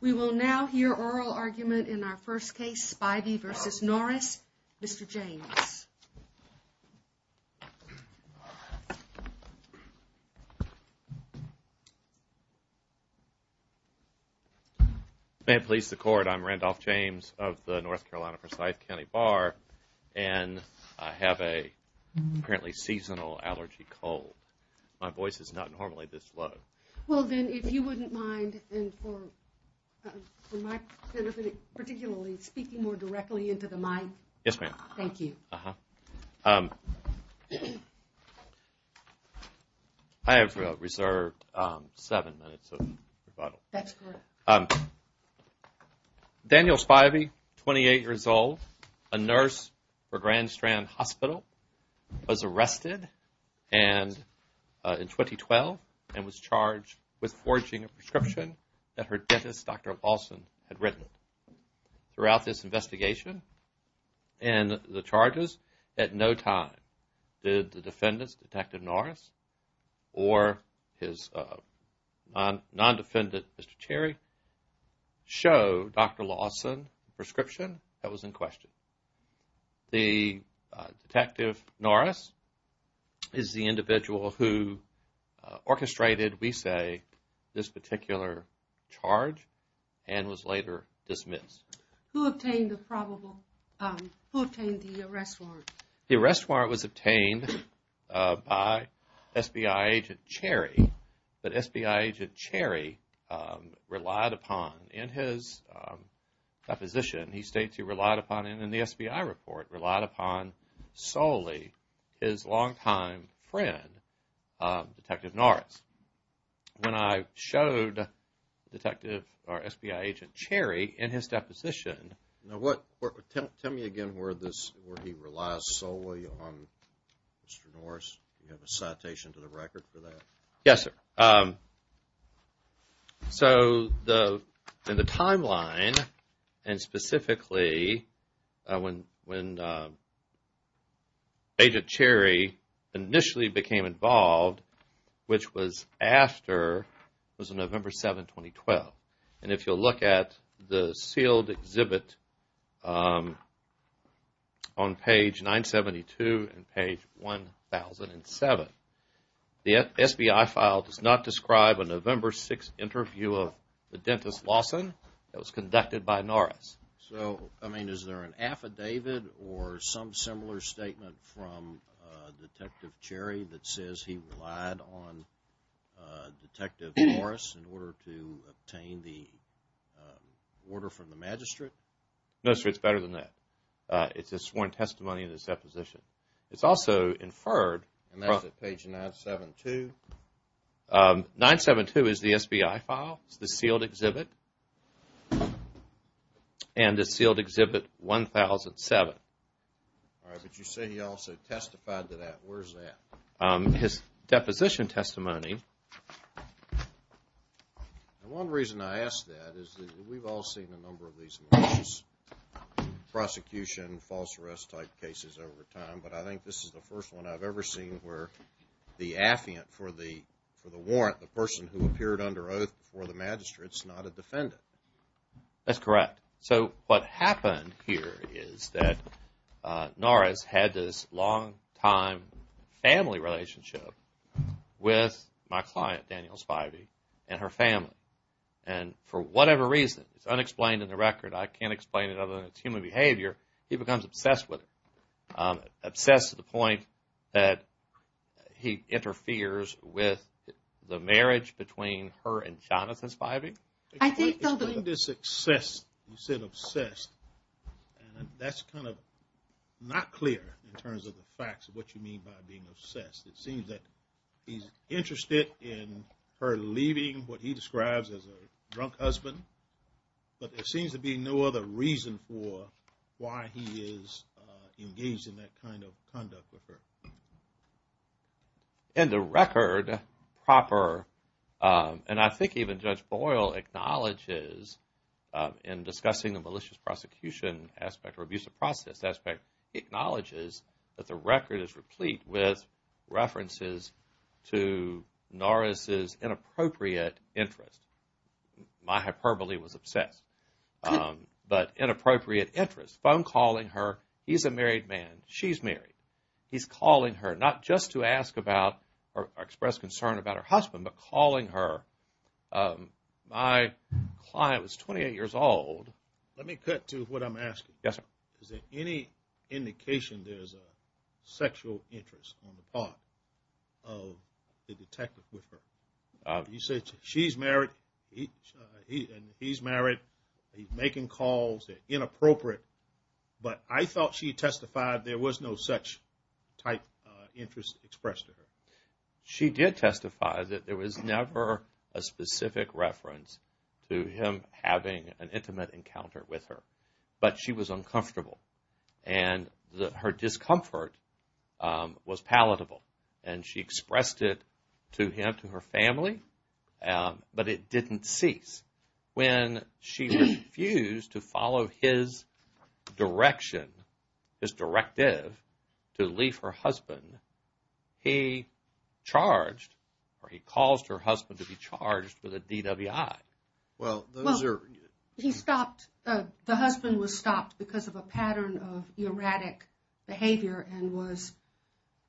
We will now hear oral argument in our first case, Spivey v. Norris. Mr. James. May it please the court, I'm Randolph James of the North Carolina Forsyth County Bar, and I have a apparently seasonal allergy cold. My voice is not normally this low. Well then if you wouldn't mind, and for my benefit particularly, speaking more directly into the mic. Yes ma'am. Thank you. I have reserved seven minutes of rebuttal. That's correct. Daniel Spivey, 28 years old, a nurse for Grand Strand Hospital, was arrested in 2012 and was charged with forging a prescription that her dentist, Dr. Lawson, had written. Throughout this investigation and the charges, at no time did the defendant's, Detective Norris, or his non-defendant, Mr. Cherry, show Dr. Lawson's prescription that was in question. The Detective Norris is the individual who orchestrated, we say, this particular charge and was later dismissed. Who obtained the probable, who obtained the arrest warrant? The arrest warrant was obtained by SBI Agent Cherry, but SBI Agent Cherry relied upon, in his deposition, he states he relied upon, and in the SBI report, relied upon solely his longtime friend, Detective Norris. When I showed Detective, or SBI Agent Cherry, in his deposition... Now what, tell me again where this, where he relies solely on Mr. Norris. Do you have a citation to the record for that? Yes, sir. So, in the timeline, and specifically, when Agent Cherry initially became involved, which was after, it was November 7, 2012. And if you'll look at the sealed exhibit on page 972 and page 1007, the SBI file does not describe a November 6 interview of the dentist, Lawson, that was conducted by Norris. So, I mean, is there an affidavit or some similar statement from Detective Cherry that says he relied on Detective Norris in order to obtain the order from the magistrate? No, sir. It's better than that. It's a sworn testimony in his deposition. It's also inferred... And that's at page 972. 972 is the SBI file. It's the sealed exhibit. And it's sealed exhibit 1007. Alright, but you say he also testified to that. Where's that? His deposition testimony... Now, one reason I ask that is that we've all seen a number of these malicious prosecution, false arrest type cases over time, but I think this is the first one I've ever seen where the affiant for the warrant, the person who appeared under oath before the magistrate, is not a defendant. That's correct. So, what happened here is that Norris had this long-time family relationship with my client, Daniel Spivey, and her family. And for whatever reason, it's unexplained in the record, I can't explain it other than it's human behavior, he becomes obsessed with it. Obsessed to the point that he interferes with the marriage between her and Jonathan Spivey. Explain the success, you said obsessed, and that's kind of not clear in terms of the facts of what you mean by being obsessed. It seems that he's interested in her leaving what he describes as a drunk husband, but there seems to be no other reason for why he is engaged in that kind of conduct with her. In the record proper, and I think even Judge Boyle acknowledges in discussing the malicious prosecution aspect or abusive process aspect, acknowledges that the record is replete with references to Norris's inappropriate interest. My hyperbole was obsessed, but inappropriate interest, phone calling her, he's a married man, she's married. He's calling her not just to ask about or express concern about her husband, but calling her, my client was 28 years old. Let me cut to what I'm asking, is there any indication there's a sexual interest on the part of the detective with her? You said she's married, he's married, he's making calls, they're inappropriate, but I thought she testified there was no such type of interest expressed to her. She did testify that there was never a specific reference to him having an intimate encounter with her, but she was uncomfortable. And her discomfort was palatable, and she expressed it to him, to her family, but it didn't cease. When she refused to follow his direction, his directive to leave her husband, he charged, or he caused her husband to be charged with a DWI. Well, he stopped, the husband was stopped because of a pattern of erratic behavior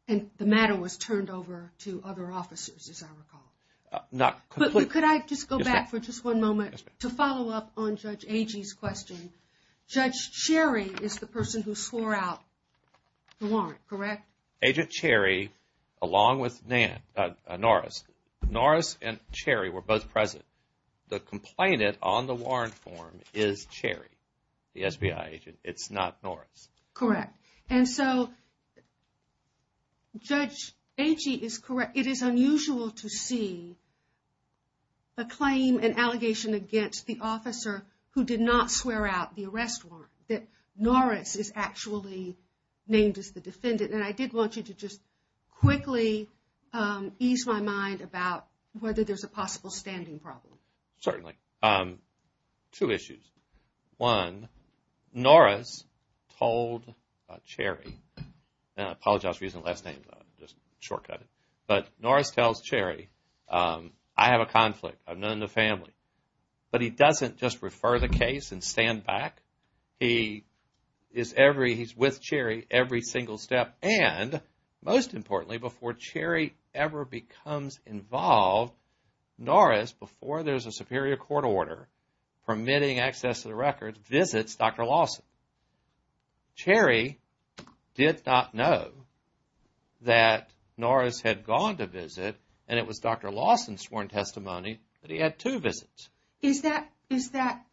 and the matter was turned over to other officers, as I recall. But could I just go back for just one moment to follow up on Judge Agee's question? Judge Cherry is the person who swore out the warrant, correct? Agent Cherry, along with Norris. Norris and Cherry were both present. The complainant on the warrant form is Cherry, the SBI agent, it's not Norris. Correct, and so Judge Agee is correct. It is unusual to see a claim, an allegation against the officer who did not swear out the arrest warrant, that Norris is actually named as the defendant. And I did want you to just quickly ease my mind about whether there's a possible standing problem. Certainly. Two issues. One, Norris told Cherry, and I apologize for using the last name, just shortcut it. But Norris tells Cherry, I have a conflict, I'm not in the family. But he doesn't just refer the case and stand back. He is with Cherry every single step and, most importantly, before Cherry ever becomes involved, Norris, before there's a superior court order permitting access to the record, visits Dr. Lawson. Cherry did not know that Norris had gone to visit and it was Dr. Lawson's sworn testimony that he had two visits. Is that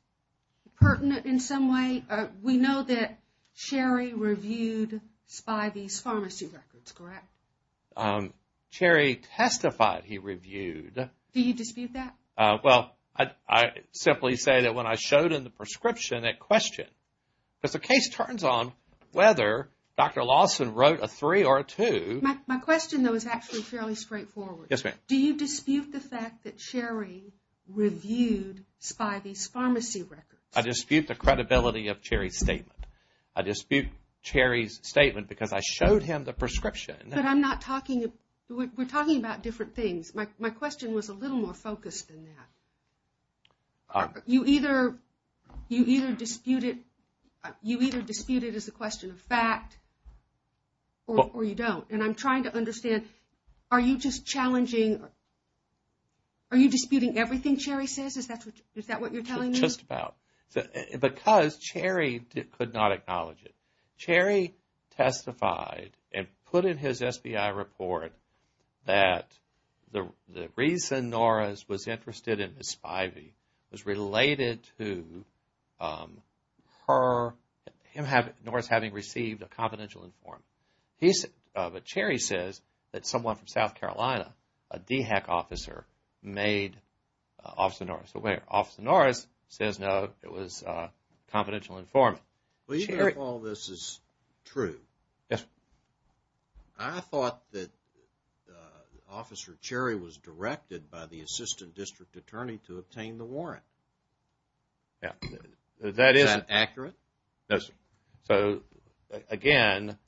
pertinent in some way? We know that Cherry reviewed Spivey's pharmacy records, correct? Cherry testified he reviewed. Do you dispute that? Well, I simply say that when I showed him the prescription at question, because the case turns on whether Dr. Lawson wrote a three or a two. My question, though, is actually fairly straightforward. Yes, ma'am. Do you dispute the fact that Cherry reviewed Spivey's pharmacy records? I dispute the credibility of Cherry's statement. I dispute Cherry's statement because I showed him the prescription. But I'm not talking, we're talking about different things. My question was a little more focused than that. You either dispute it, you either dispute it as a question of fact or you don't. And I'm trying to understand, are you just challenging, are you disputing everything Cherry says? Is that what you're telling me? Just about. Because Cherry could not acknowledge it. Cherry testified and put in his SBI report that the reason Norris was interested in Miss Spivey was related to her, him having, Norris having received a confidential informant. But Cherry says that someone from South Carolina, a DHEC officer, made Officer Norris aware. Officer Norris says no, it was a confidential informant. Well, even if all this is true, I thought that Officer Cherry was directed by the Assistant District Attorney to obtain the warrant. Is that accurate? Yes, sir. So, again,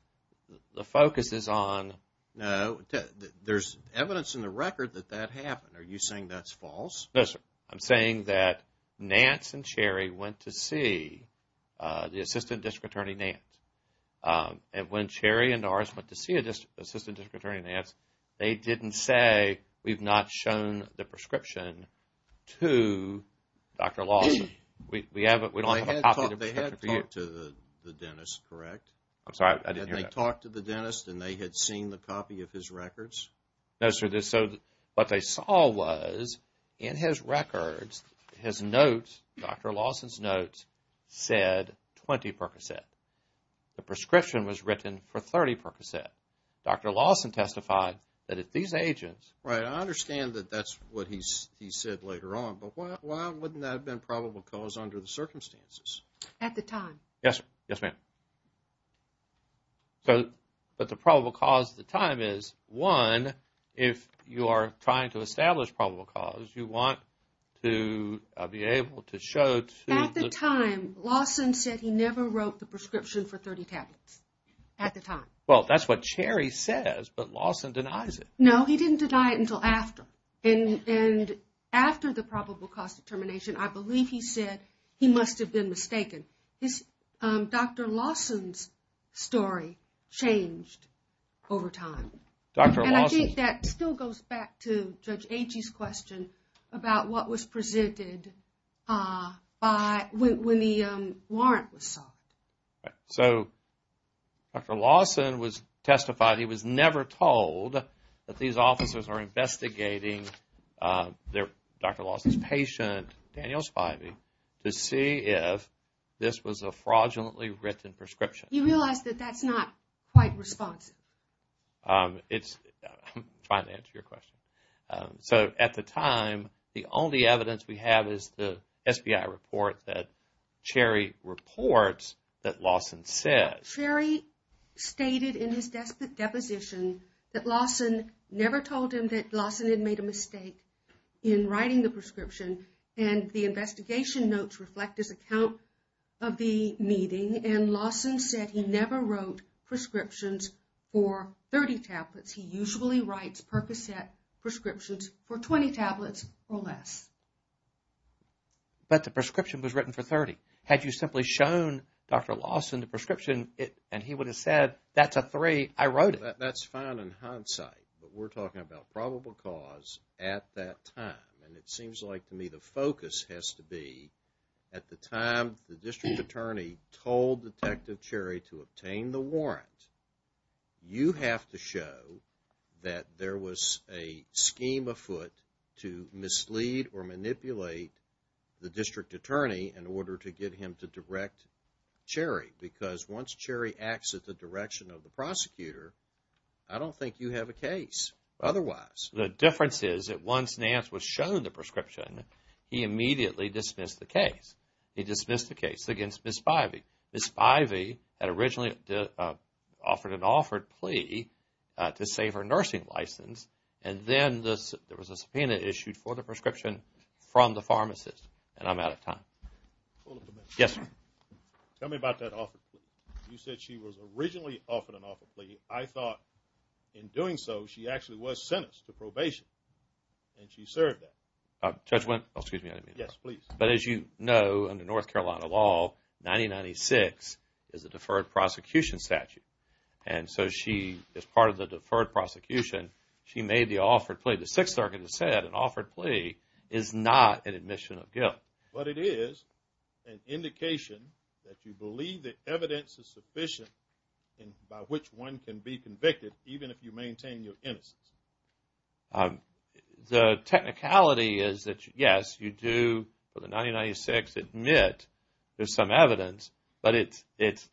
the focus is on... No, there's evidence in the record that that happened. Are you saying that's false? No, sir. I'm saying that Nance and Cherry went to see the Assistant District Attorney Nance. And when Cherry and Norris went to see Assistant District Attorney Nance, they didn't say, we've not shown the prescription to Dr. Lawson. They had talked to the dentist, correct? I'm sorry, I didn't hear that. And they talked to the dentist and they had seen the copy of his records? No, sir. What they saw was in his records, his notes, Dr. Lawson's notes, said 20 percocet. The prescription was written for 30 percocet. Dr. Lawson testified that if these agents... Right, I understand that that's what he said later on, but why wouldn't that have been probable cause under the circumstances? At the time. Yes, ma'am. But the probable cause at the time is, one, if you are trying to establish probable cause, you want to be able to show to... At the time, Lawson said he never wrote the prescription for 30 tablets. At the time. Well, that's what Cherry says, but Lawson denies it. No, he didn't deny it until after. And after the probable cause determination, I believe he said he must have been mistaken. Dr. Lawson's story changed over time. And I think that still goes back to Judge Agee's question about what was presented when the warrant was sought. So, Dr. Lawson testified he was never told that these officers were investigating Dr. Lawson's patient, Daniel Spivey, to see if this was a fraudulently written prescription. He realized that that's not quite responsive. I'm trying to answer your question. So, at the time, the only evidence we have is the SBI report that Cherry reports that Lawson said. Cherry stated in his deposition that Lawson never told him that Lawson had made a mistake in writing the prescription. And the investigation notes reflect his account of the meeting. And Lawson said he never wrote prescriptions for 30 tablets. He usually writes Percocet prescriptions for 20 tablets or less. But the prescription was written for 30. Had you simply shown Dr. Lawson the prescription and he would have said, that's a three, I wrote it. That's fine in hindsight, but we're talking about probable cause at that time. And it seems like to me the focus has to be at the time the district attorney told Detective Cherry to obtain the warrant, you have to show that there was a scheme afoot to mislead or manipulate the district attorney in order to get him to direct Cherry. Because once Cherry acts at the direction of the prosecutor, I don't think you have a case otherwise. The difference is that once Nance was shown the prescription, he immediately dismissed the case. He dismissed the case against Ms. Spivey. Ms. Spivey had originally offered an offered plea to save her nursing license. And then there was a subpoena issued for the prescription from the pharmacist. And I'm out of time. Yes, sir. Tell me about that offered plea. You said she was originally offered an offered plea. I thought in doing so she actually was sentenced to probation. And she served that. Judge, excuse me. Yes, please. But as you know, under North Carolina law, 1996 is a deferred prosecution statute. And so she, as part of the deferred prosecution, she made the offered plea. The Sixth Circuit has said an offered plea is not an admission of guilt. But it is an indication that you believe the evidence is sufficient by which one can be convicted even if you maintain your innocence. The technicality is that, yes, you do for the 1996 admit there's some evidence, but it's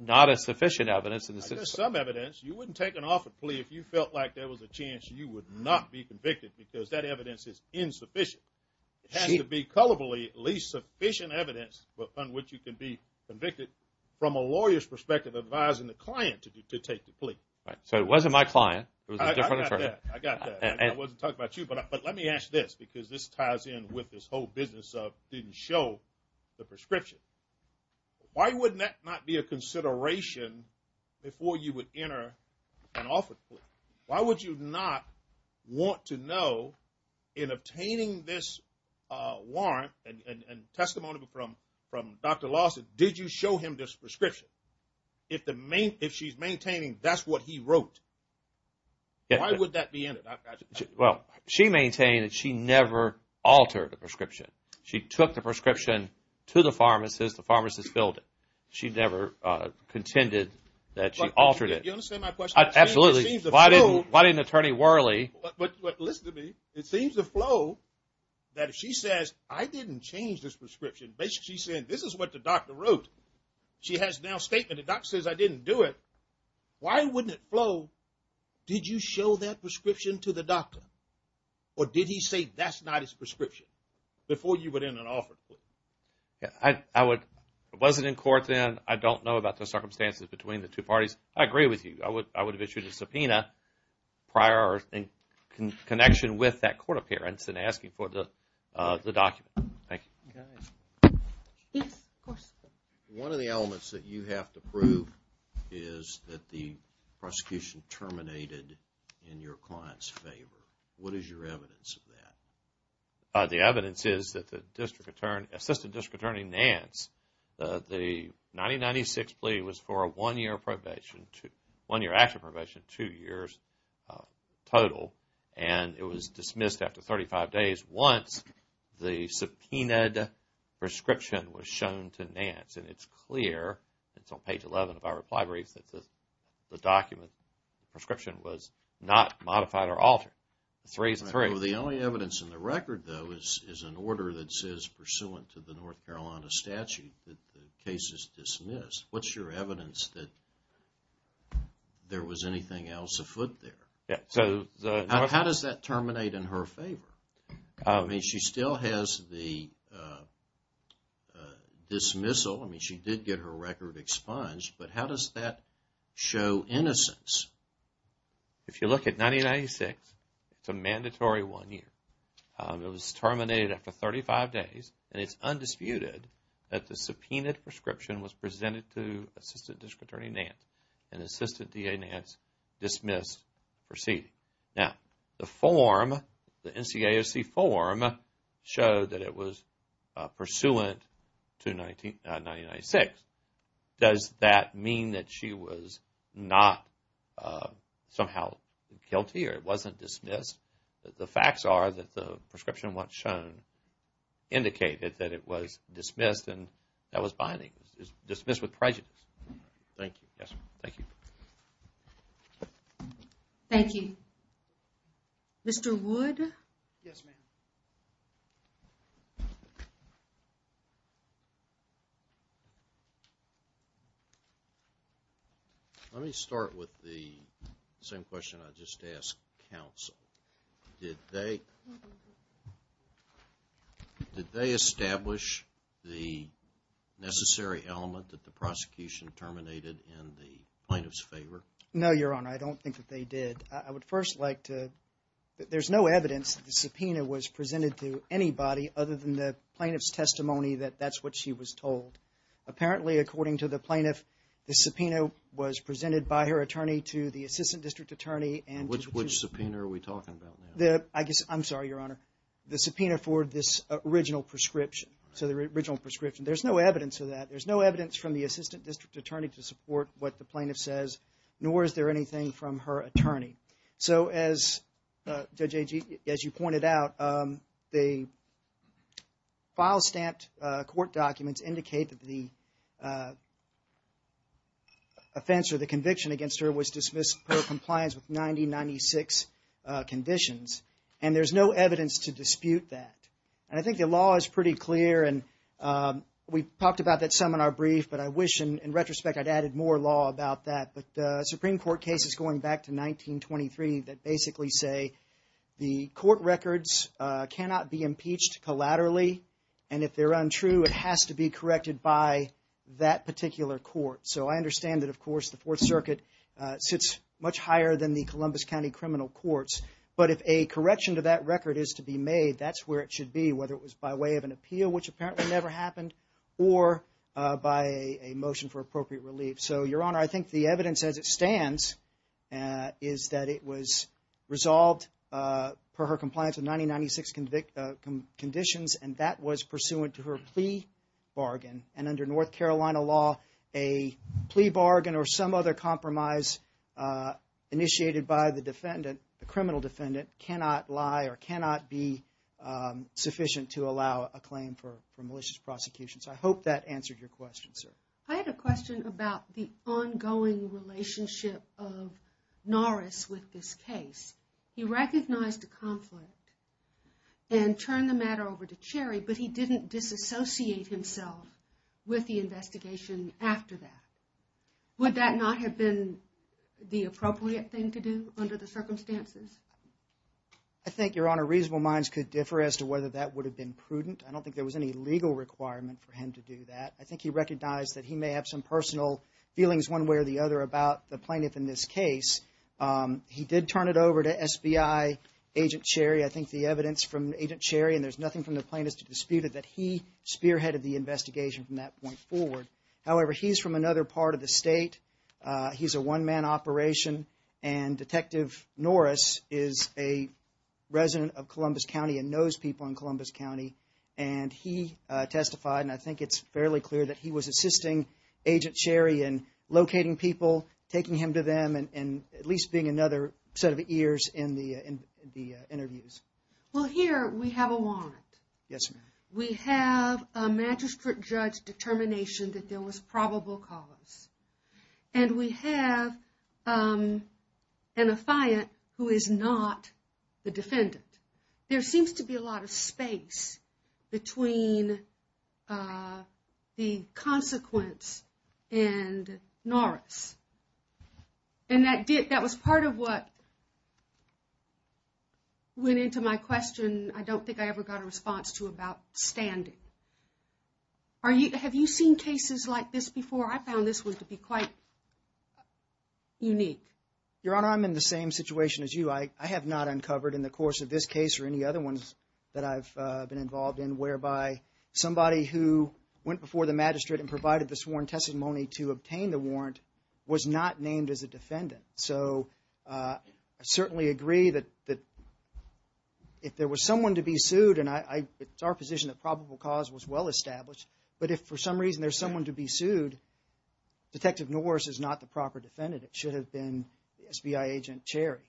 not a sufficient evidence. There's some evidence. You wouldn't take an offered plea if you felt like there was a chance you would not be convicted because that evidence is insufficient. It has to be colorfully at least sufficient evidence on which you can be convicted from a lawyer's perspective advising the client to take the plea. So it wasn't my client. It was a different attorney. I got that. I wasn't talking about you. But let me ask this because this ties in with this whole business of didn't show the prescription. Why wouldn't that not be a consideration before you would enter an offered plea? Why would you not want to know in obtaining this warrant and testimony from Dr. Lawson, did you show him this prescription? If the main if she's maintaining, that's what he wrote. Why would that be in it? Well, she maintained that she never altered the prescription. She took the prescription to the pharmacist. The pharmacist filled it. She never contended that she altered it. You understand my question? Absolutely. Why didn't why didn't Attorney Worley? But listen to me. It seems to flow that she says, I didn't change this prescription. Basically, she said, this is what the doctor wrote. She has now statement. The doctor says, I didn't do it. Why wouldn't it flow? Did you show that prescription to the doctor? Or did he say that's not his prescription before you went in and offered? Yeah, I would. It wasn't in court then. I don't know about the circumstances between the two parties. I agree with you. I would have issued a subpoena prior in connection with that court appearance and asking for the document. Thank you. Yes, of course. One of the elements that you have to prove is that the prosecution terminated in your client's favor. What is your evidence of that? The evidence is that the District Attorney, Assistant District Attorney Nance, the 1996 plea was for a one-year action probation, two years total. It was dismissed after 35 days once the subpoenaed prescription was shown to Nance. It's clear, it's on page 11 of our reply brief, that the document prescription was not modified or altered. Three is three. The only evidence in the record, though, is an order that says, pursuant to the North Carolina statute, that the case is dismissed. What's your evidence that there was anything else afoot there? How does that terminate in her favor? I mean, she still has the dismissal. I mean, she did get her record expunged, but how does that show innocence? If you look at 1996, it's a mandatory one year. It was terminated after 35 days, and it's undisputed that the subpoenaed prescription was presented to Now, the form, the NCAOC form, showed that it was pursuant to 1996. Does that mean that she was not somehow guilty or it wasn't dismissed? The facts are that the prescription once shown indicated that it was dismissed and that was binding. It was dismissed with prejudice. Thank you. Yes, thank you. Thank you. Mr. Wood? Yes, ma'am. Let me start with the same question I just asked counsel. Did they establish the necessary element that the prosecution terminated in the plaintiff's favor? No, Your Honor, I don't think that they did. I would first like to – there's no evidence that the subpoena was presented to anybody other than the plaintiff's testimony that that's what she was told. Apparently, according to the plaintiff, the subpoena was presented by her attorney to the assistant district attorney and to the judge. Which subpoena are we talking about now? I guess – I'm sorry, Your Honor. The subpoena for this original prescription. So, the original prescription. There's no evidence of that. There's no evidence from the assistant district attorney to support what the plaintiff says, nor is there anything from her attorney. So, as Judge Agee – as you pointed out, the file stamped court documents indicate that the offense or the conviction against her was dismissed per compliance with 9096 conditions. And there's no evidence to dispute that. And I think the law is pretty clear and we've talked about that some in our brief, but I wish in retrospect I'd added more law about that. But Supreme Court cases going back to 1923 that basically say the court records cannot be impeached collaterally. And if they're untrue, it has to be corrected by that particular court. So, I understand that, of course, the Fourth Circuit sits much higher than the Columbus County Criminal Courts. But if a correction to that record is to be made, that's where it should be, whether it was by way of an appeal, which apparently never happened, or by a motion for appropriate relief. So, Your Honor, I think the evidence as it stands is that it was resolved per her compliance with 9096 conditions, and that was pursuant to her plea bargain. And under North Carolina law, a plea bargain or some other compromise initiated by the defendant, the criminal defendant, cannot lie or cannot be sufficient to allow a claim for malicious prosecution. So, I hope that answered your question, sir. I had a question about the ongoing relationship of Norris with this case. He recognized a conflict and turned the matter over to Cherry, but he didn't disassociate himself with the investigation after that. Would that not have been the appropriate thing to do under the circumstances? I think, Your Honor, reasonable minds could differ as to whether that would have been prudent. I don't think there was any legal requirement for him to do that. I think he recognized that he may have some personal feelings one way or the other about the plaintiff in this case. He did turn it over to SBI Agent Cherry. I think the evidence from Agent Cherry, and there's nothing from the plaintiff to dispute it, that he spearheaded the investigation from that point forward. However, he's from another part of the state. He's a one-man operation, and Detective Norris is a resident of Columbus County and knows people in Columbus County. And he testified, and I think it's fairly clear that he was assisting Agent Cherry in locating people, taking him to them, and at least being another set of ears in the interviews. Well, here we have a warrant. Yes, ma'am. We have a magistrate judge determination that there was probable cause. And we have an affiant who is not the defendant. There seems to be a lot of space between the consequence and Norris. And that was part of what went into my question I don't think I ever got a response to about standing. Have you seen cases like this before? I found this one to be quite unique. Your Honor, I'm in the same situation as you. I have not uncovered in the course of this case or any other ones that I've been involved in whereby somebody who went before the magistrate and provided the sworn testimony to obtain the warrant was not named as a defendant. So I certainly agree that if there was someone to be sued, and it's our position that probable cause was well established, but if for some reason there's someone to be sued, Detective Norris is not the proper defendant. It should have been SBI Agent Cherry.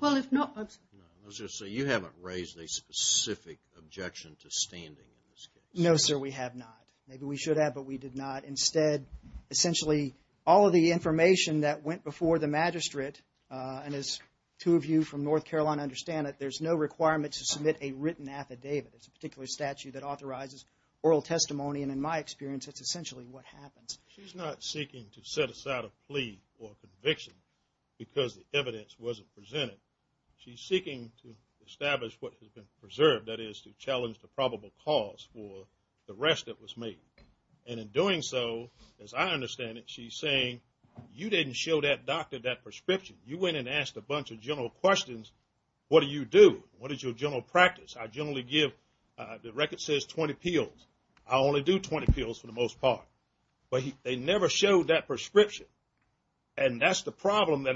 Well, if not, I'm sorry. No, let's just say you haven't raised a specific objection to standing in this case. No, sir, we have not. Maybe we should have, but we did not. Instead, essentially, all of the information that went before the magistrate, and as two of you from North Carolina understand it, there's no requirement to submit a written affidavit. It's a particular statute that authorizes oral testimony, and in my experience, it's essentially what happens. She's not seeking to set aside a plea or conviction because the evidence wasn't presented. She's seeking to establish what has been preserved, that is, to challenge the probable cause for the rest that was made. And in doing so, as I understand it, she's saying you didn't show that doctor that prescription. You went and asked a bunch of general questions. What do you do? What is your general practice? I generally give the record says 20 pills. I only do 20 pills for the most part, but they never showed that prescription. And that's the problem,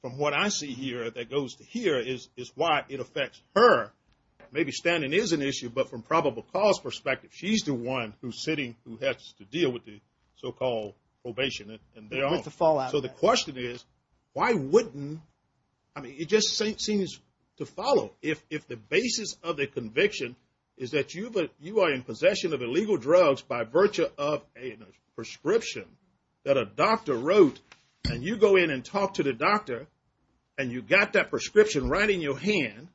from what I see here, that goes to here, is why it affects her. Maybe standing is an issue, but from probable cause perspective, she's the one who's sitting, who has to deal with the so-called probation. So the question is, why wouldn't, I mean, it just seems to follow. If the basis of the conviction is that you are in possession of illegal drugs by virtue of a prescription that a doctor wrote, and you go in and talk to the doctor, and you got that prescription right in your hand,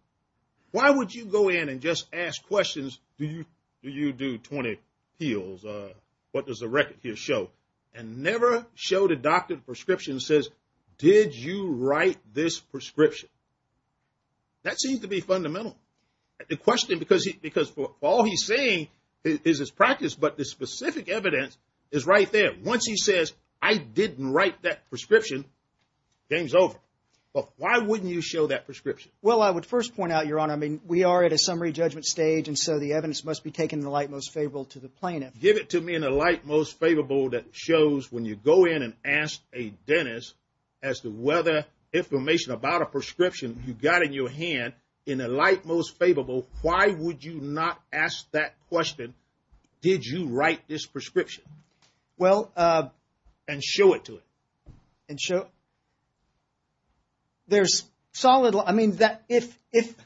why would you go in and just ask questions, do you do 20 pills? What does the record here show? And never show the doctor the prescription that says, did you write this prescription? That seems to be fundamental. The question, because all he's saying is his practice, but the specific evidence is right there. Once he says, I didn't write that prescription, game's over. But why wouldn't you show that prescription? Well, I would first point out, Your Honor, I mean, we are at a summary judgment stage, and so the evidence must be taken in the light most favorable to the plaintiff. Give it to me in the light most favorable that shows when you go in and ask a dentist as to whether information about a prescription you got in your hand, in the light most favorable, why would you not ask that question, did you write this prescription? And show it to him. There's solid, I mean, if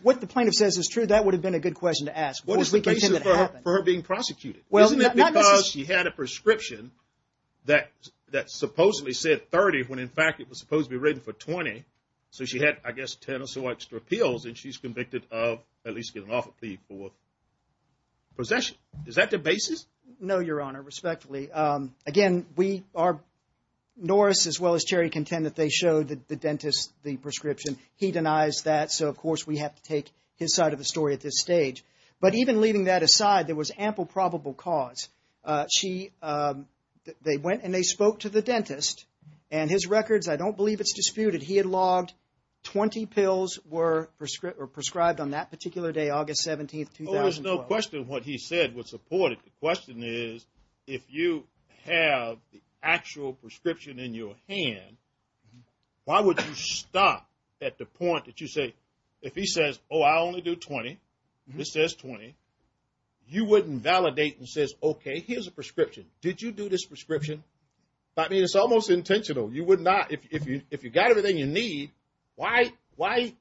what the plaintiff says is true, that would have been a good question to ask. What is the basis for her being prosecuted? Isn't it because she had a prescription that supposedly said 30, when in fact it was supposed to be written for 20? So she had, I guess, 10 or so extra pills, and she's convicted of at least getting off a plea for possession. Is that the basis? No, Your Honor, respectfully. Again, we are, Norris as well as Cherry contend that they showed the dentist the prescription. He denies that, so of course we have to take his side of the story at this stage. But even leaving that aside, there was ample probable cause. She, they went and they spoke to the dentist, and his records, I don't believe it's disputed, he had logged 20 pills were prescribed on that particular day, August 17th, 2012. Well, there's no question what he said was supported. The question is, if you have the actual prescription in your hand, why would you stop at the point that you say, if he says, oh, I only do 20, this says 20, you wouldn't validate and says, okay, here's a prescription. Did you do this prescription? I mean, it's almost intentional. You would not, if you got everything you need, why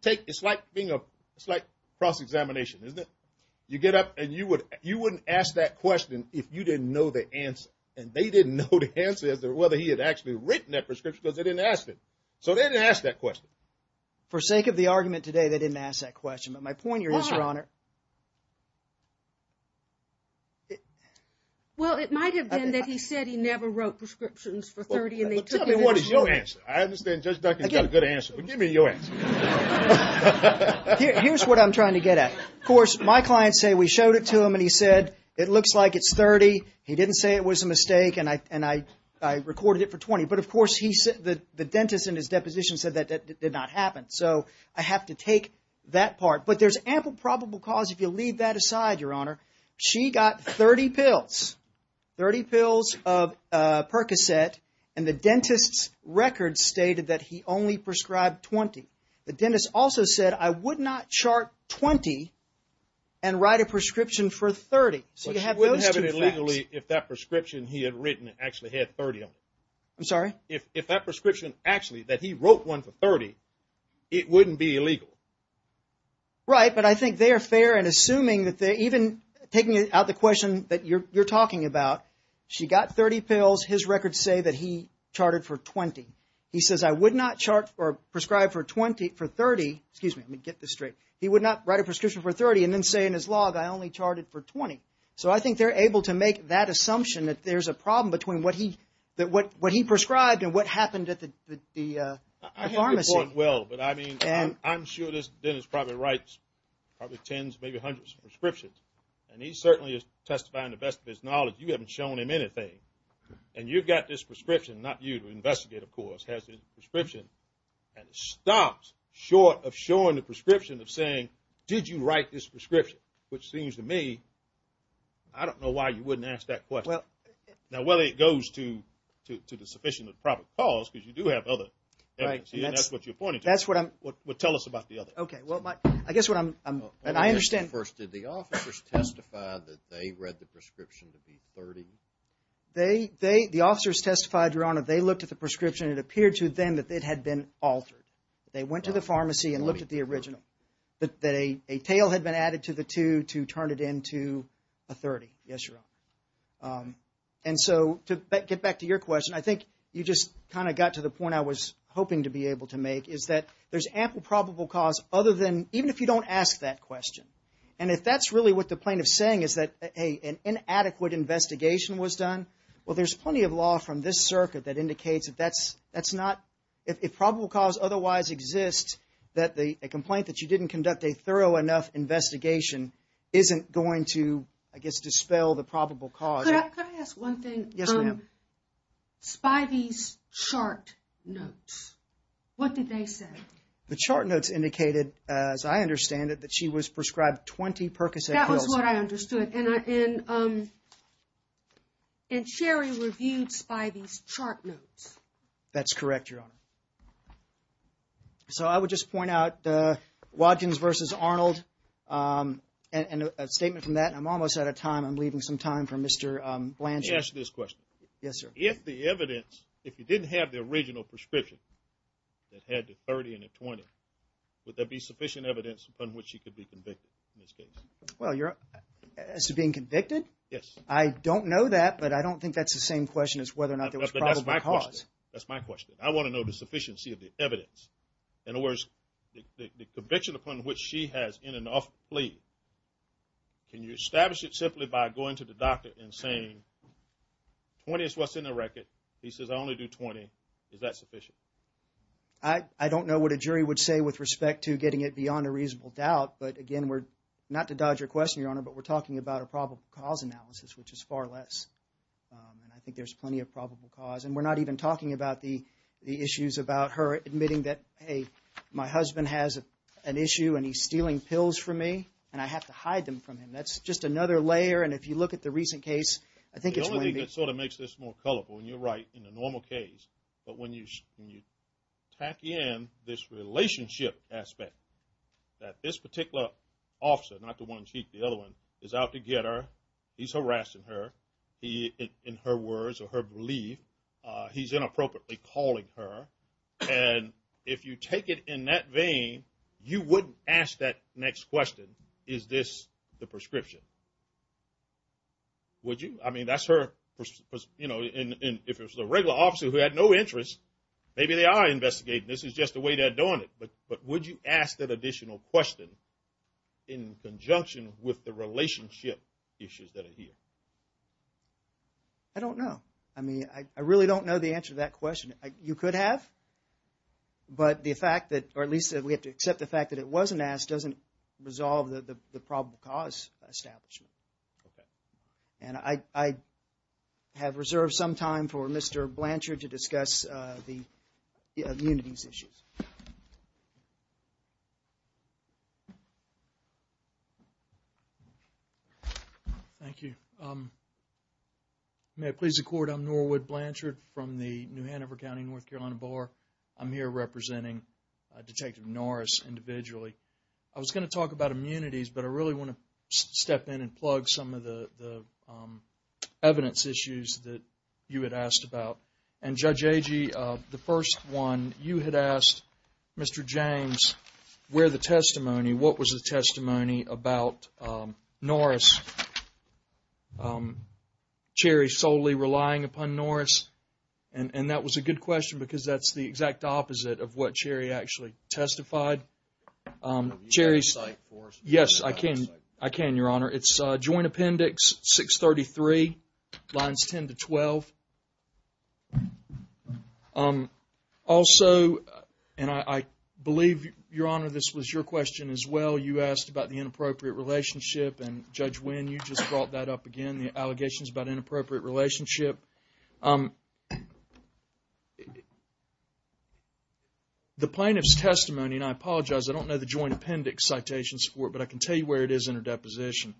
take, it's like being a, it's like cross-examination, isn't it? You get up and you wouldn't ask that question if you didn't know the answer, and they didn't know the answer as to whether he had actually written that prescription because they didn't ask it. So they didn't ask that question. For sake of the argument today, they didn't ask that question. But my point here is, Your Honor. Why? Well, it might have been that he said he never wrote prescriptions for 30, and they took it. Tell me what is your answer. I understand Judge Duncan's got a good answer, but give me your answer. Here's what I'm trying to get at. Of course, my clients say we showed it to him, and he said, it looks like it's 30. He didn't say it was a mistake, and I recorded it for 20. But of course, he said, the dentist in his deposition said that that did not happen. So I have to take that part. But there's ample probable cause if you leave that aside, Your Honor. She got 30 pills, 30 pills of Percocet, and the dentist's record stated that he only prescribed 20. The dentist also said, I would not chart 20 and write a prescription for 30. So you have those two facts. If that prescription he had written actually had 30 of them. I'm sorry? If that prescription actually that he wrote one for 30, it wouldn't be illegal. Right, but I think they are fair in assuming that they're even taking out the question that you're talking about. She got 30 pills. His records say that he charted for 20. He says, I would not chart or prescribe for 20 for 30. Excuse me. Let me get this straight. He would not write a prescription for 30 and then say in his log, I only charted for 20. So I think they're able to make that assumption that there's a problem between what he prescribed and what happened at the pharmacy. I haven't reported well, but I mean, I'm sure this dentist probably writes probably tens, maybe hundreds of prescriptions. And he certainly is testifying to the best of his knowledge. You haven't shown him anything. And you've got this prescription, not you to investigate, of course, has this prescription. And it stops short of showing the prescription of saying, did you write this prescription? Which seems to me, I don't know why you wouldn't ask that question. Now, whether it goes to the sufficient of the proper cause, because you do have other evidence. And that's what you're pointing to. That's what I'm. Well, tell us about the other. Okay, well, I guess what I'm. And I understand. First, did the officers testify that they read the prescription to be 30? The officers testified, Your Honor, they looked at the prescription. It appeared to them that it had been altered. They went to the pharmacy and looked at the original. But they, a tail had been added to the two to turn it into a 30. Yes, Your Honor. And so to get back to your question, I think you just kind of got to the point I was hoping to be able to make. Is that there's ample probable cause other than, even if you don't ask that question. And if that's really what the plaintiff's saying is that, hey, an inadequate investigation was done. Well, there's plenty of law from this circuit that indicates that that's not. If probable cause otherwise exists, that the complaint that you didn't conduct a thorough enough investigation isn't going to, I guess, dispel the probable cause. Could I ask one thing? Yes, ma'am. From Spivey's chart notes, what did they say? The chart notes indicated, as I understand it, that she was prescribed 20 Percocet pills. That was what I understood. And Sherry reviewed Spivey's chart notes. That's correct, Your Honor. So I would just point out Watkins versus Arnold and a statement from that. I'm almost out of time. I'm leaving some time for Mr. Blanchard. Let me ask you this question. Yes, sir. If the evidence, if you didn't have the original prescription that had the 30 and the 20, would there be sufficient evidence upon which she could be convicted in this case? Well, as to being convicted? Yes. I don't know that, but I don't think that's the same question as whether or not there was probable cause. That's my question. I want to know the sufficiency of the evidence. In other words, the conviction upon which she has in and of plea. Can you establish it simply by going to the doctor and saying, 20 is what's in the record. He says I only do 20. Is that sufficient? I don't know what a jury would say with respect to getting it beyond a reasonable doubt. But, again, we're not to dodge your question, Your Honor, but we're talking about a probable cause analysis, which is far less. And I think there's plenty of probable cause. And we're not even talking about the issues about her admitting that, hey, my husband has an issue and he's stealing pills from me and I have to hide them from him. That's just another layer. And if you look at the recent case, I think it's going to be. It sort of makes this more colorful. And you're right in the normal case. But when you tack in this relationship aspect that this particular officer, not the one in the cheek, the other one, is out to get her. He's harassing her. In her words or her belief, he's inappropriately calling her. And if you take it in that vein, you wouldn't ask that next question, is this the prescription? Would you? I mean, that's her, you know, and if it was a regular officer who had no interest, maybe they are investigating. This is just the way they're doing it. But would you ask that additional question in conjunction with the relationship issues that are here? I don't know. I mean, I really don't know the answer to that question. You could have. But the fact that, or at least we have to accept the fact that it wasn't asked, doesn't resolve the probable cause establishment. Okay. And I have reserved some time for Mr. Blanchard to discuss the communities issues. Thank you. May I please record I'm Norwood Blanchard from the New Hanover County North Carolina Bar. I'm here representing Detective Norris individually. I was going to talk about immunities, but I really want to step in and plug some of the evidence issues that you had asked about. And Judge Agee, the first one you had asked, Mr. James, where the testimony, what was the testimony about Norris, Cherry solely relying upon Norris? And that was a good question because that's the exact opposite of what Cherry actually testified. You can cite for us. Yes, I can. I can, Your Honor. It's Joint Appendix 633, lines 10 to 12. Also, and I believe, Your Honor, this was your question as well. You asked about the inappropriate relationship, and Judge Winn, you just brought that up again, the allegations about inappropriate relationship. The plaintiff's testimony, and I apologize, I don't know the Joint Appendix citations for it, but I can tell you where it is in her deposition.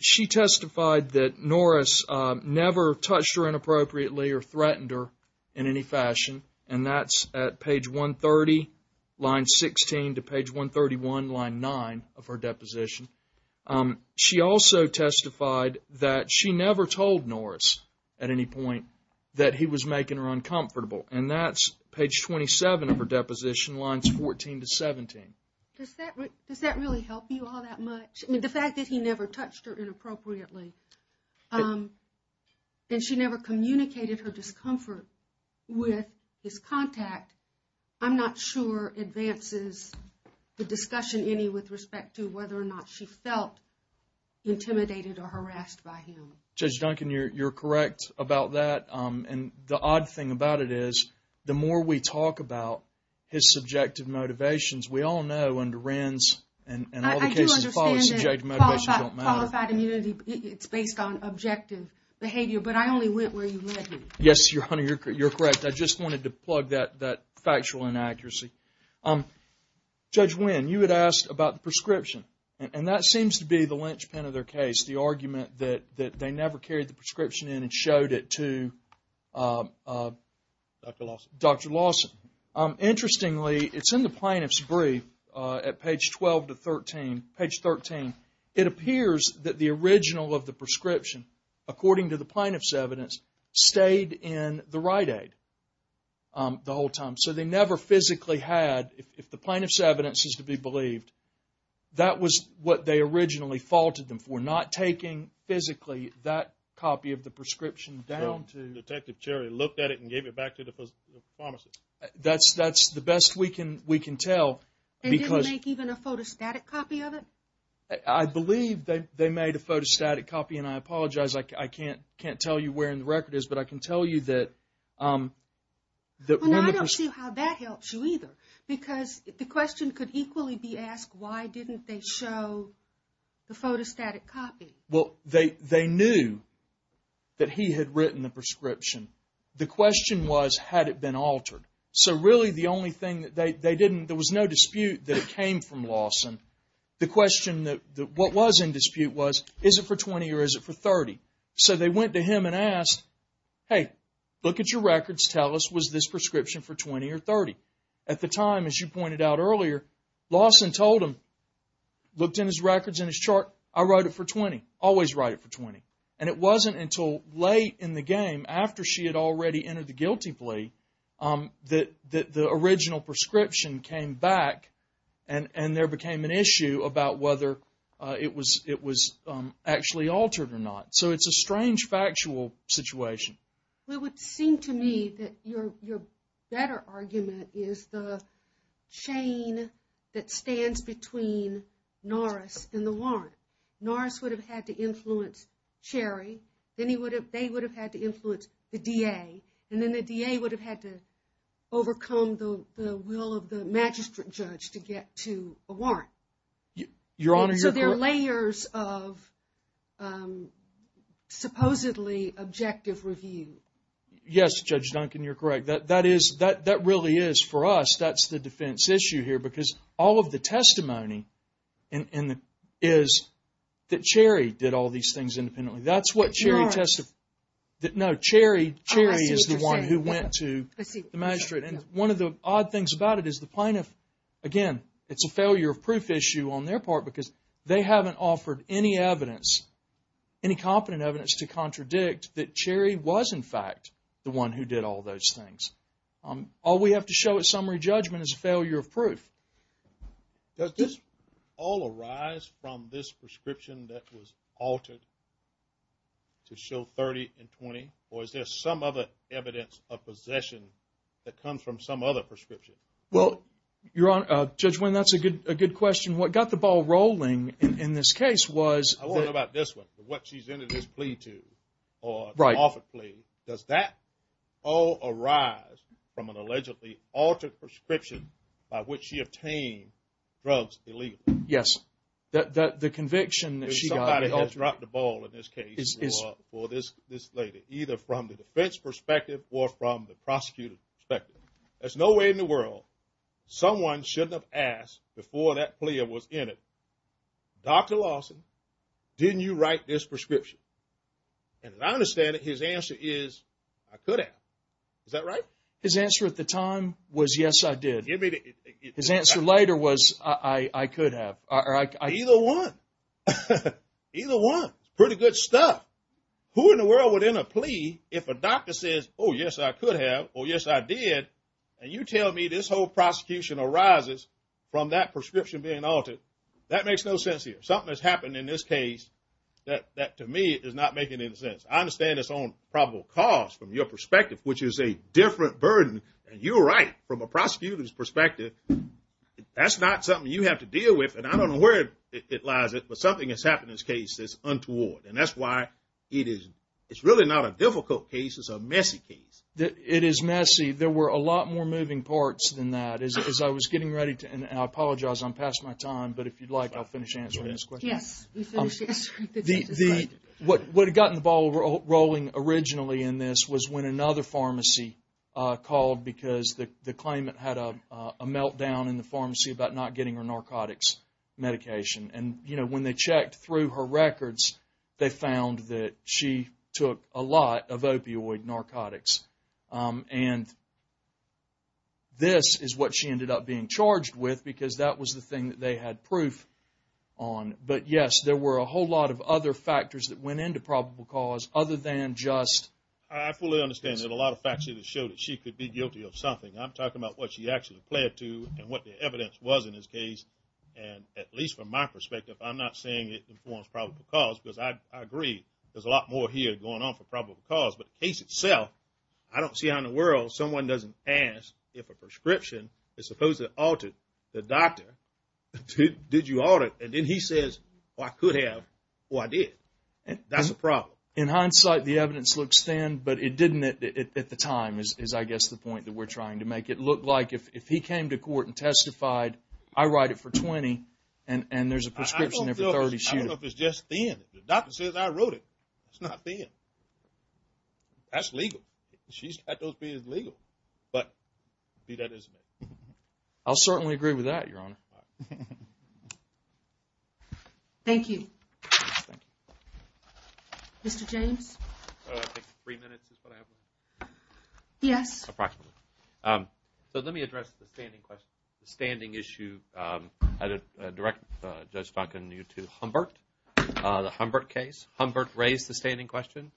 She testified that Norris never touched her inappropriately or threatened her in any fashion. And that's at page 130, line 16 to page 131, line 9 of her deposition. She also testified that she never told Norris at any point that he was making her uncomfortable. And that's page 27 of her deposition, lines 14 to 17. Does that really help you all that much? The fact that he never touched her inappropriately, and she never communicated her discomfort with his contact, I'm not sure advances the discussion any with respect to whether or not she felt intimidated or harassed by him. Judge Duncan, you're correct about that. And the odd thing about it is, the more we talk about his subjective motivations, we all know under Wren's and all the cases that follow, subjective motivations don't matter. I do understand that qualified immunity, it's based on objective behavior, but I only went where you led me. Yes, Your Honor, you're correct. I just wanted to plug that factual inaccuracy. Judge Wren, you had asked about the prescription, and that seems to be the linchpin of their case, the argument that they never carried the prescription in and showed it to Dr. Lawson. Interestingly, it's in the plaintiff's brief at page 12 to 13, page 13. It appears that the original of the prescription, according to the plaintiff's evidence, stayed in the Rite-Aid the whole time. So they never physically had, if the plaintiff's evidence is to be believed, that was what they originally faulted them for, not taking physically that copy of the prescription down to... Detective Cherry looked at it and gave it back to the pharmacist. That's the best we can tell because... They didn't make even a photostatic copy of it? I believe they made a photostatic copy, and I apologize. I can't tell you where in the record it is, but I can tell you that... I don't see how that helps you either, because the question could equally be asked, why didn't they show the photostatic copy? Well, they knew that he had written the prescription. The question was, had it been altered? So really the only thing that they didn't... There was no dispute that it came from Lawson. The question, what was in dispute was, is it for 20 or is it for 30? So they went to him and asked, hey, look at your records, tell us, was this prescription for 20 or 30? At the time, as you pointed out earlier, Lawson told him, looked in his records and his chart, I wrote it for 20, always write it for 20. And it wasn't until late in the game, after she had already entered the guilty plea, that the original prescription came back and there became an issue about whether it was actually altered or not. So it's a strange factual situation. It would seem to me that your better argument is the chain that stands between Norris and the warrant. Norris would have had to influence Cherry, then they would have had to influence the DA, and then the DA would have had to overcome the will of the magistrate judge to get to a warrant. Your Honor, you're correct. So there are layers of supposedly objective review. Yes, Judge Duncan, you're correct. That really is, for us, that's the defense issue here. Because all of the testimony is that Cherry did all these things independently. That's what Cherry testified. No, Cherry is the one who went to the magistrate. And one of the odd things about it is the plaintiff, again, it's a failure of proof issue on their part, because they haven't offered any evidence, any competent evidence, to contradict that Cherry was, in fact, the one who did all those things. All we have to show at summary judgment is a failure of proof. Does this all arise from this prescription that was altered to show 30 and 20? Or is there some other evidence of possession that comes from some other prescription? Well, Your Honor, Judge Winn, that's a good question. What got the ball rolling in this case was that- I want to know about this one, what she's entered this plea to. Right. Does that all arise from an allegedly altered prescription by which she obtained drugs illegally? Yes. The conviction that she got- Somebody has dropped the ball in this case for this lady, either from the defense perspective or from the prosecutor's perspective. There's no way in the world someone shouldn't have asked before that plea was entered, Dr. Lawson, didn't you write this prescription? And as I understand it, his answer is, I could have. Is that right? His answer at the time was, yes, I did. His answer later was, I could have. Either one. Either one. Pretty good stuff. Who in the world would enter a plea if a doctor says, oh, yes, I could have, or yes, I did, and you tell me this whole prosecution arises from that prescription being altered? That makes no sense here. Something has happened in this case that, to me, is not making any sense. I understand it's on probable cause from your perspective, which is a different burden, and you're right, from a prosecutor's perspective, that's not something you have to deal with, and I don't know where it lies, but something has happened in this case that's untoward, and that's why it's really not a difficult case, it's a messy case. It is messy. There were a lot more moving parts than that. I apologize, I'm past my time, but if you'd like, I'll finish answering this question. Yes. What had gotten the ball rolling originally in this was when another pharmacy called because the claimant had a meltdown in the pharmacy about not getting her narcotics medication, and when they checked through her records, they found that she took a lot of opioid narcotics, and this is what she ended up being charged with because that was the thing that they had proof on. But, yes, there were a whole lot of other factors that went into probable cause other than just... I fully understand that a lot of facts show that she could be guilty of something. I'm talking about what she actually pled to and what the evidence was in this case, and at least from my perspective, I'm not saying it informs probable cause because I agree, there's a lot more here going on for probable cause, but the case itself, I don't see how in the world someone doesn't ask if a prescription is supposed to alter the doctor. Did you alter it? And then he says, well, I could have. Well, I did. That's a problem. In hindsight, the evidence looks thin, but it didn't at the time is, I guess, the point that we're trying to make. It looked like if he came to court and testified, I write it for 20, and there's a prescription for 30. I don't know if it's just thin. The doctor says I wrote it. It's not thin. That's legal. She's got those things legal. But, see, that is... I'll certainly agree with that, Your Honor. Thank you. Mr. James? I think three minutes is what I have. Yes. Approximately. So let me address the standing question, the standing issue. I'd direct Judge Duncan to Humbert, the Humbert case. Humbert raised the standing question.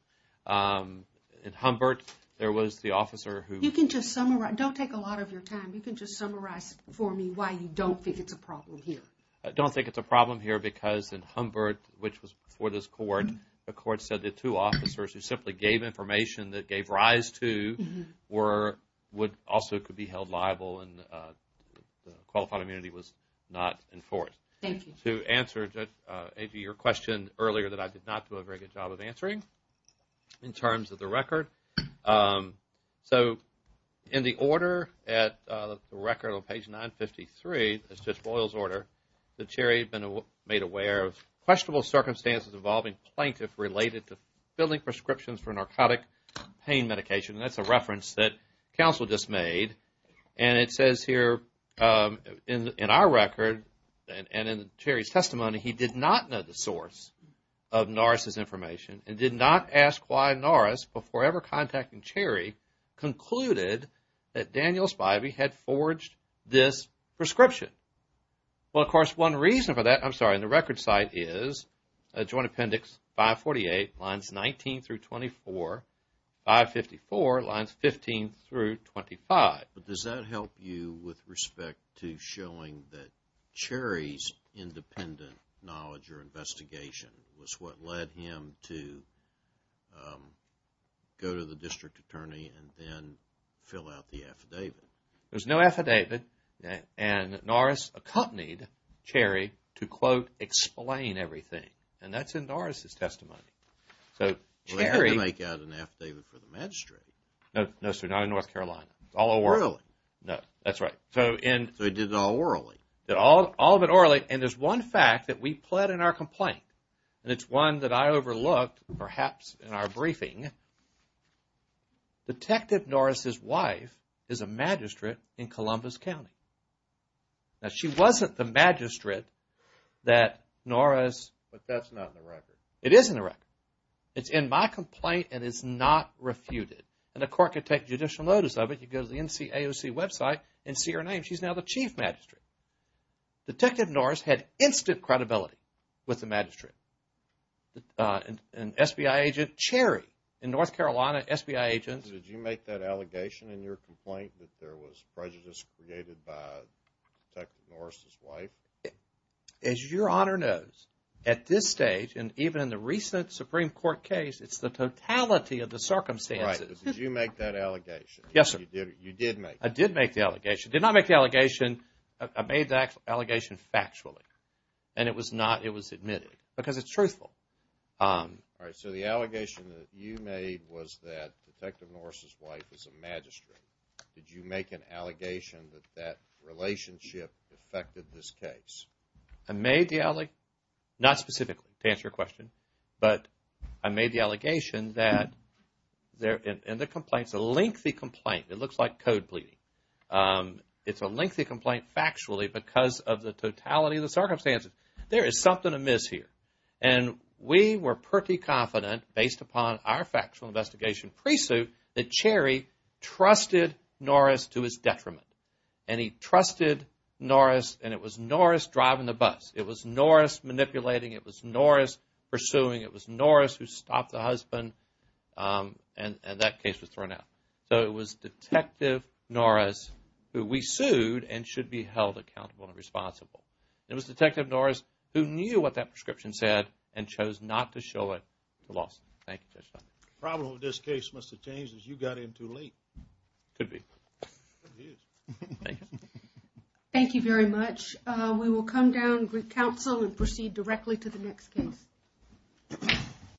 In Humbert, there was the officer who... You can just summarize. Don't take a lot of your time. You can just summarize for me why you don't think it's a problem here. I don't think it's a problem here because in Humbert, which was before this court, the court said the two officers who simply gave information that gave rise to were... also could be held liable and qualified immunity was not enforced. Thank you. To answer, A.G., your question earlier that I did not do a very good job of answering in terms of the record. So in the order at the record on page 953, that's Judge Boyle's order, the Cherry had been made aware of questionable circumstances involving plaintiffs related to filling prescriptions for narcotic pain medication. And that's a reference that counsel just made. And it says here in our record and in Cherry's testimony, he did not know the source of Norris' information and did not ask why Norris, before ever contacting Cherry, concluded that Daniel Spivey had forged this prescription. Well, of course, one reason for that, I'm sorry, in the record site is Joint Appendix 548, Lines 19-24, 554, Lines 15-25. But does that help you with respect to showing that Cherry's independent knowledge or investigation was what led him to go to the district attorney and then fill out the affidavit? There's no affidavit and Norris accompanied Cherry to, quote, explain everything. And that's in Norris' testimony. Well, he had to make out an affidavit for the magistrate. No, sir, not in North Carolina. Orally. No, that's right. So he did it all orally. All of it orally. And there's one fact that we pled in our complaint. And it's one that I overlooked, perhaps, in our briefing. Detective Norris' wife is a magistrate in Columbus County. Now, she wasn't the magistrate that Norris... But that's not in the record. It is in the record. It's in my complaint and it's not refuted. And the court can take judicial notice of it. You go to the NCAOC website and see her name. She's now the chief magistrate. Detective Norris had instant credibility with the magistrate. And SBI agent Cherry. In North Carolina, SBI agents... Did you make that allegation in your complaint that there was prejudice created by Detective Norris' wife? As your Honor knows, at this stage, and even in the recent Supreme Court case, it's the totality of the circumstances. Right. But did you make that allegation? Yes, sir. You did make it. I did make the allegation. Did not make the allegation. I made the allegation factually. And it was admitted. Because it's truthful. All right. So the allegation that you made was that Detective Norris' wife is a magistrate. Did you make an allegation that that relationship affected this case? I made the alleg... Not specifically, to answer your question. But I made the allegation that... And the complaint's a lengthy complaint. It looks like code bleeding. It's a lengthy complaint factually because of the totality of the circumstances. There is something amiss here. And we were pretty confident, based upon our factual investigation pre-suit, that Cherry trusted Norris to his detriment. And he trusted Norris. And it was Norris driving the bus. It was Norris manipulating. It was Norris pursuing. It was Norris who stopped the husband. And that case was thrown out. So it was Detective Norris who we sued and should be held accountable and responsible. It was Detective Norris who knew what that prescription said and chose not to show it to Lawson. Thank you, Judge Dunn. The problem with this case must have changed because you got in too late. Could be. Could be. Thank you. Thank you very much. We will come down to the council and proceed directly to the next case.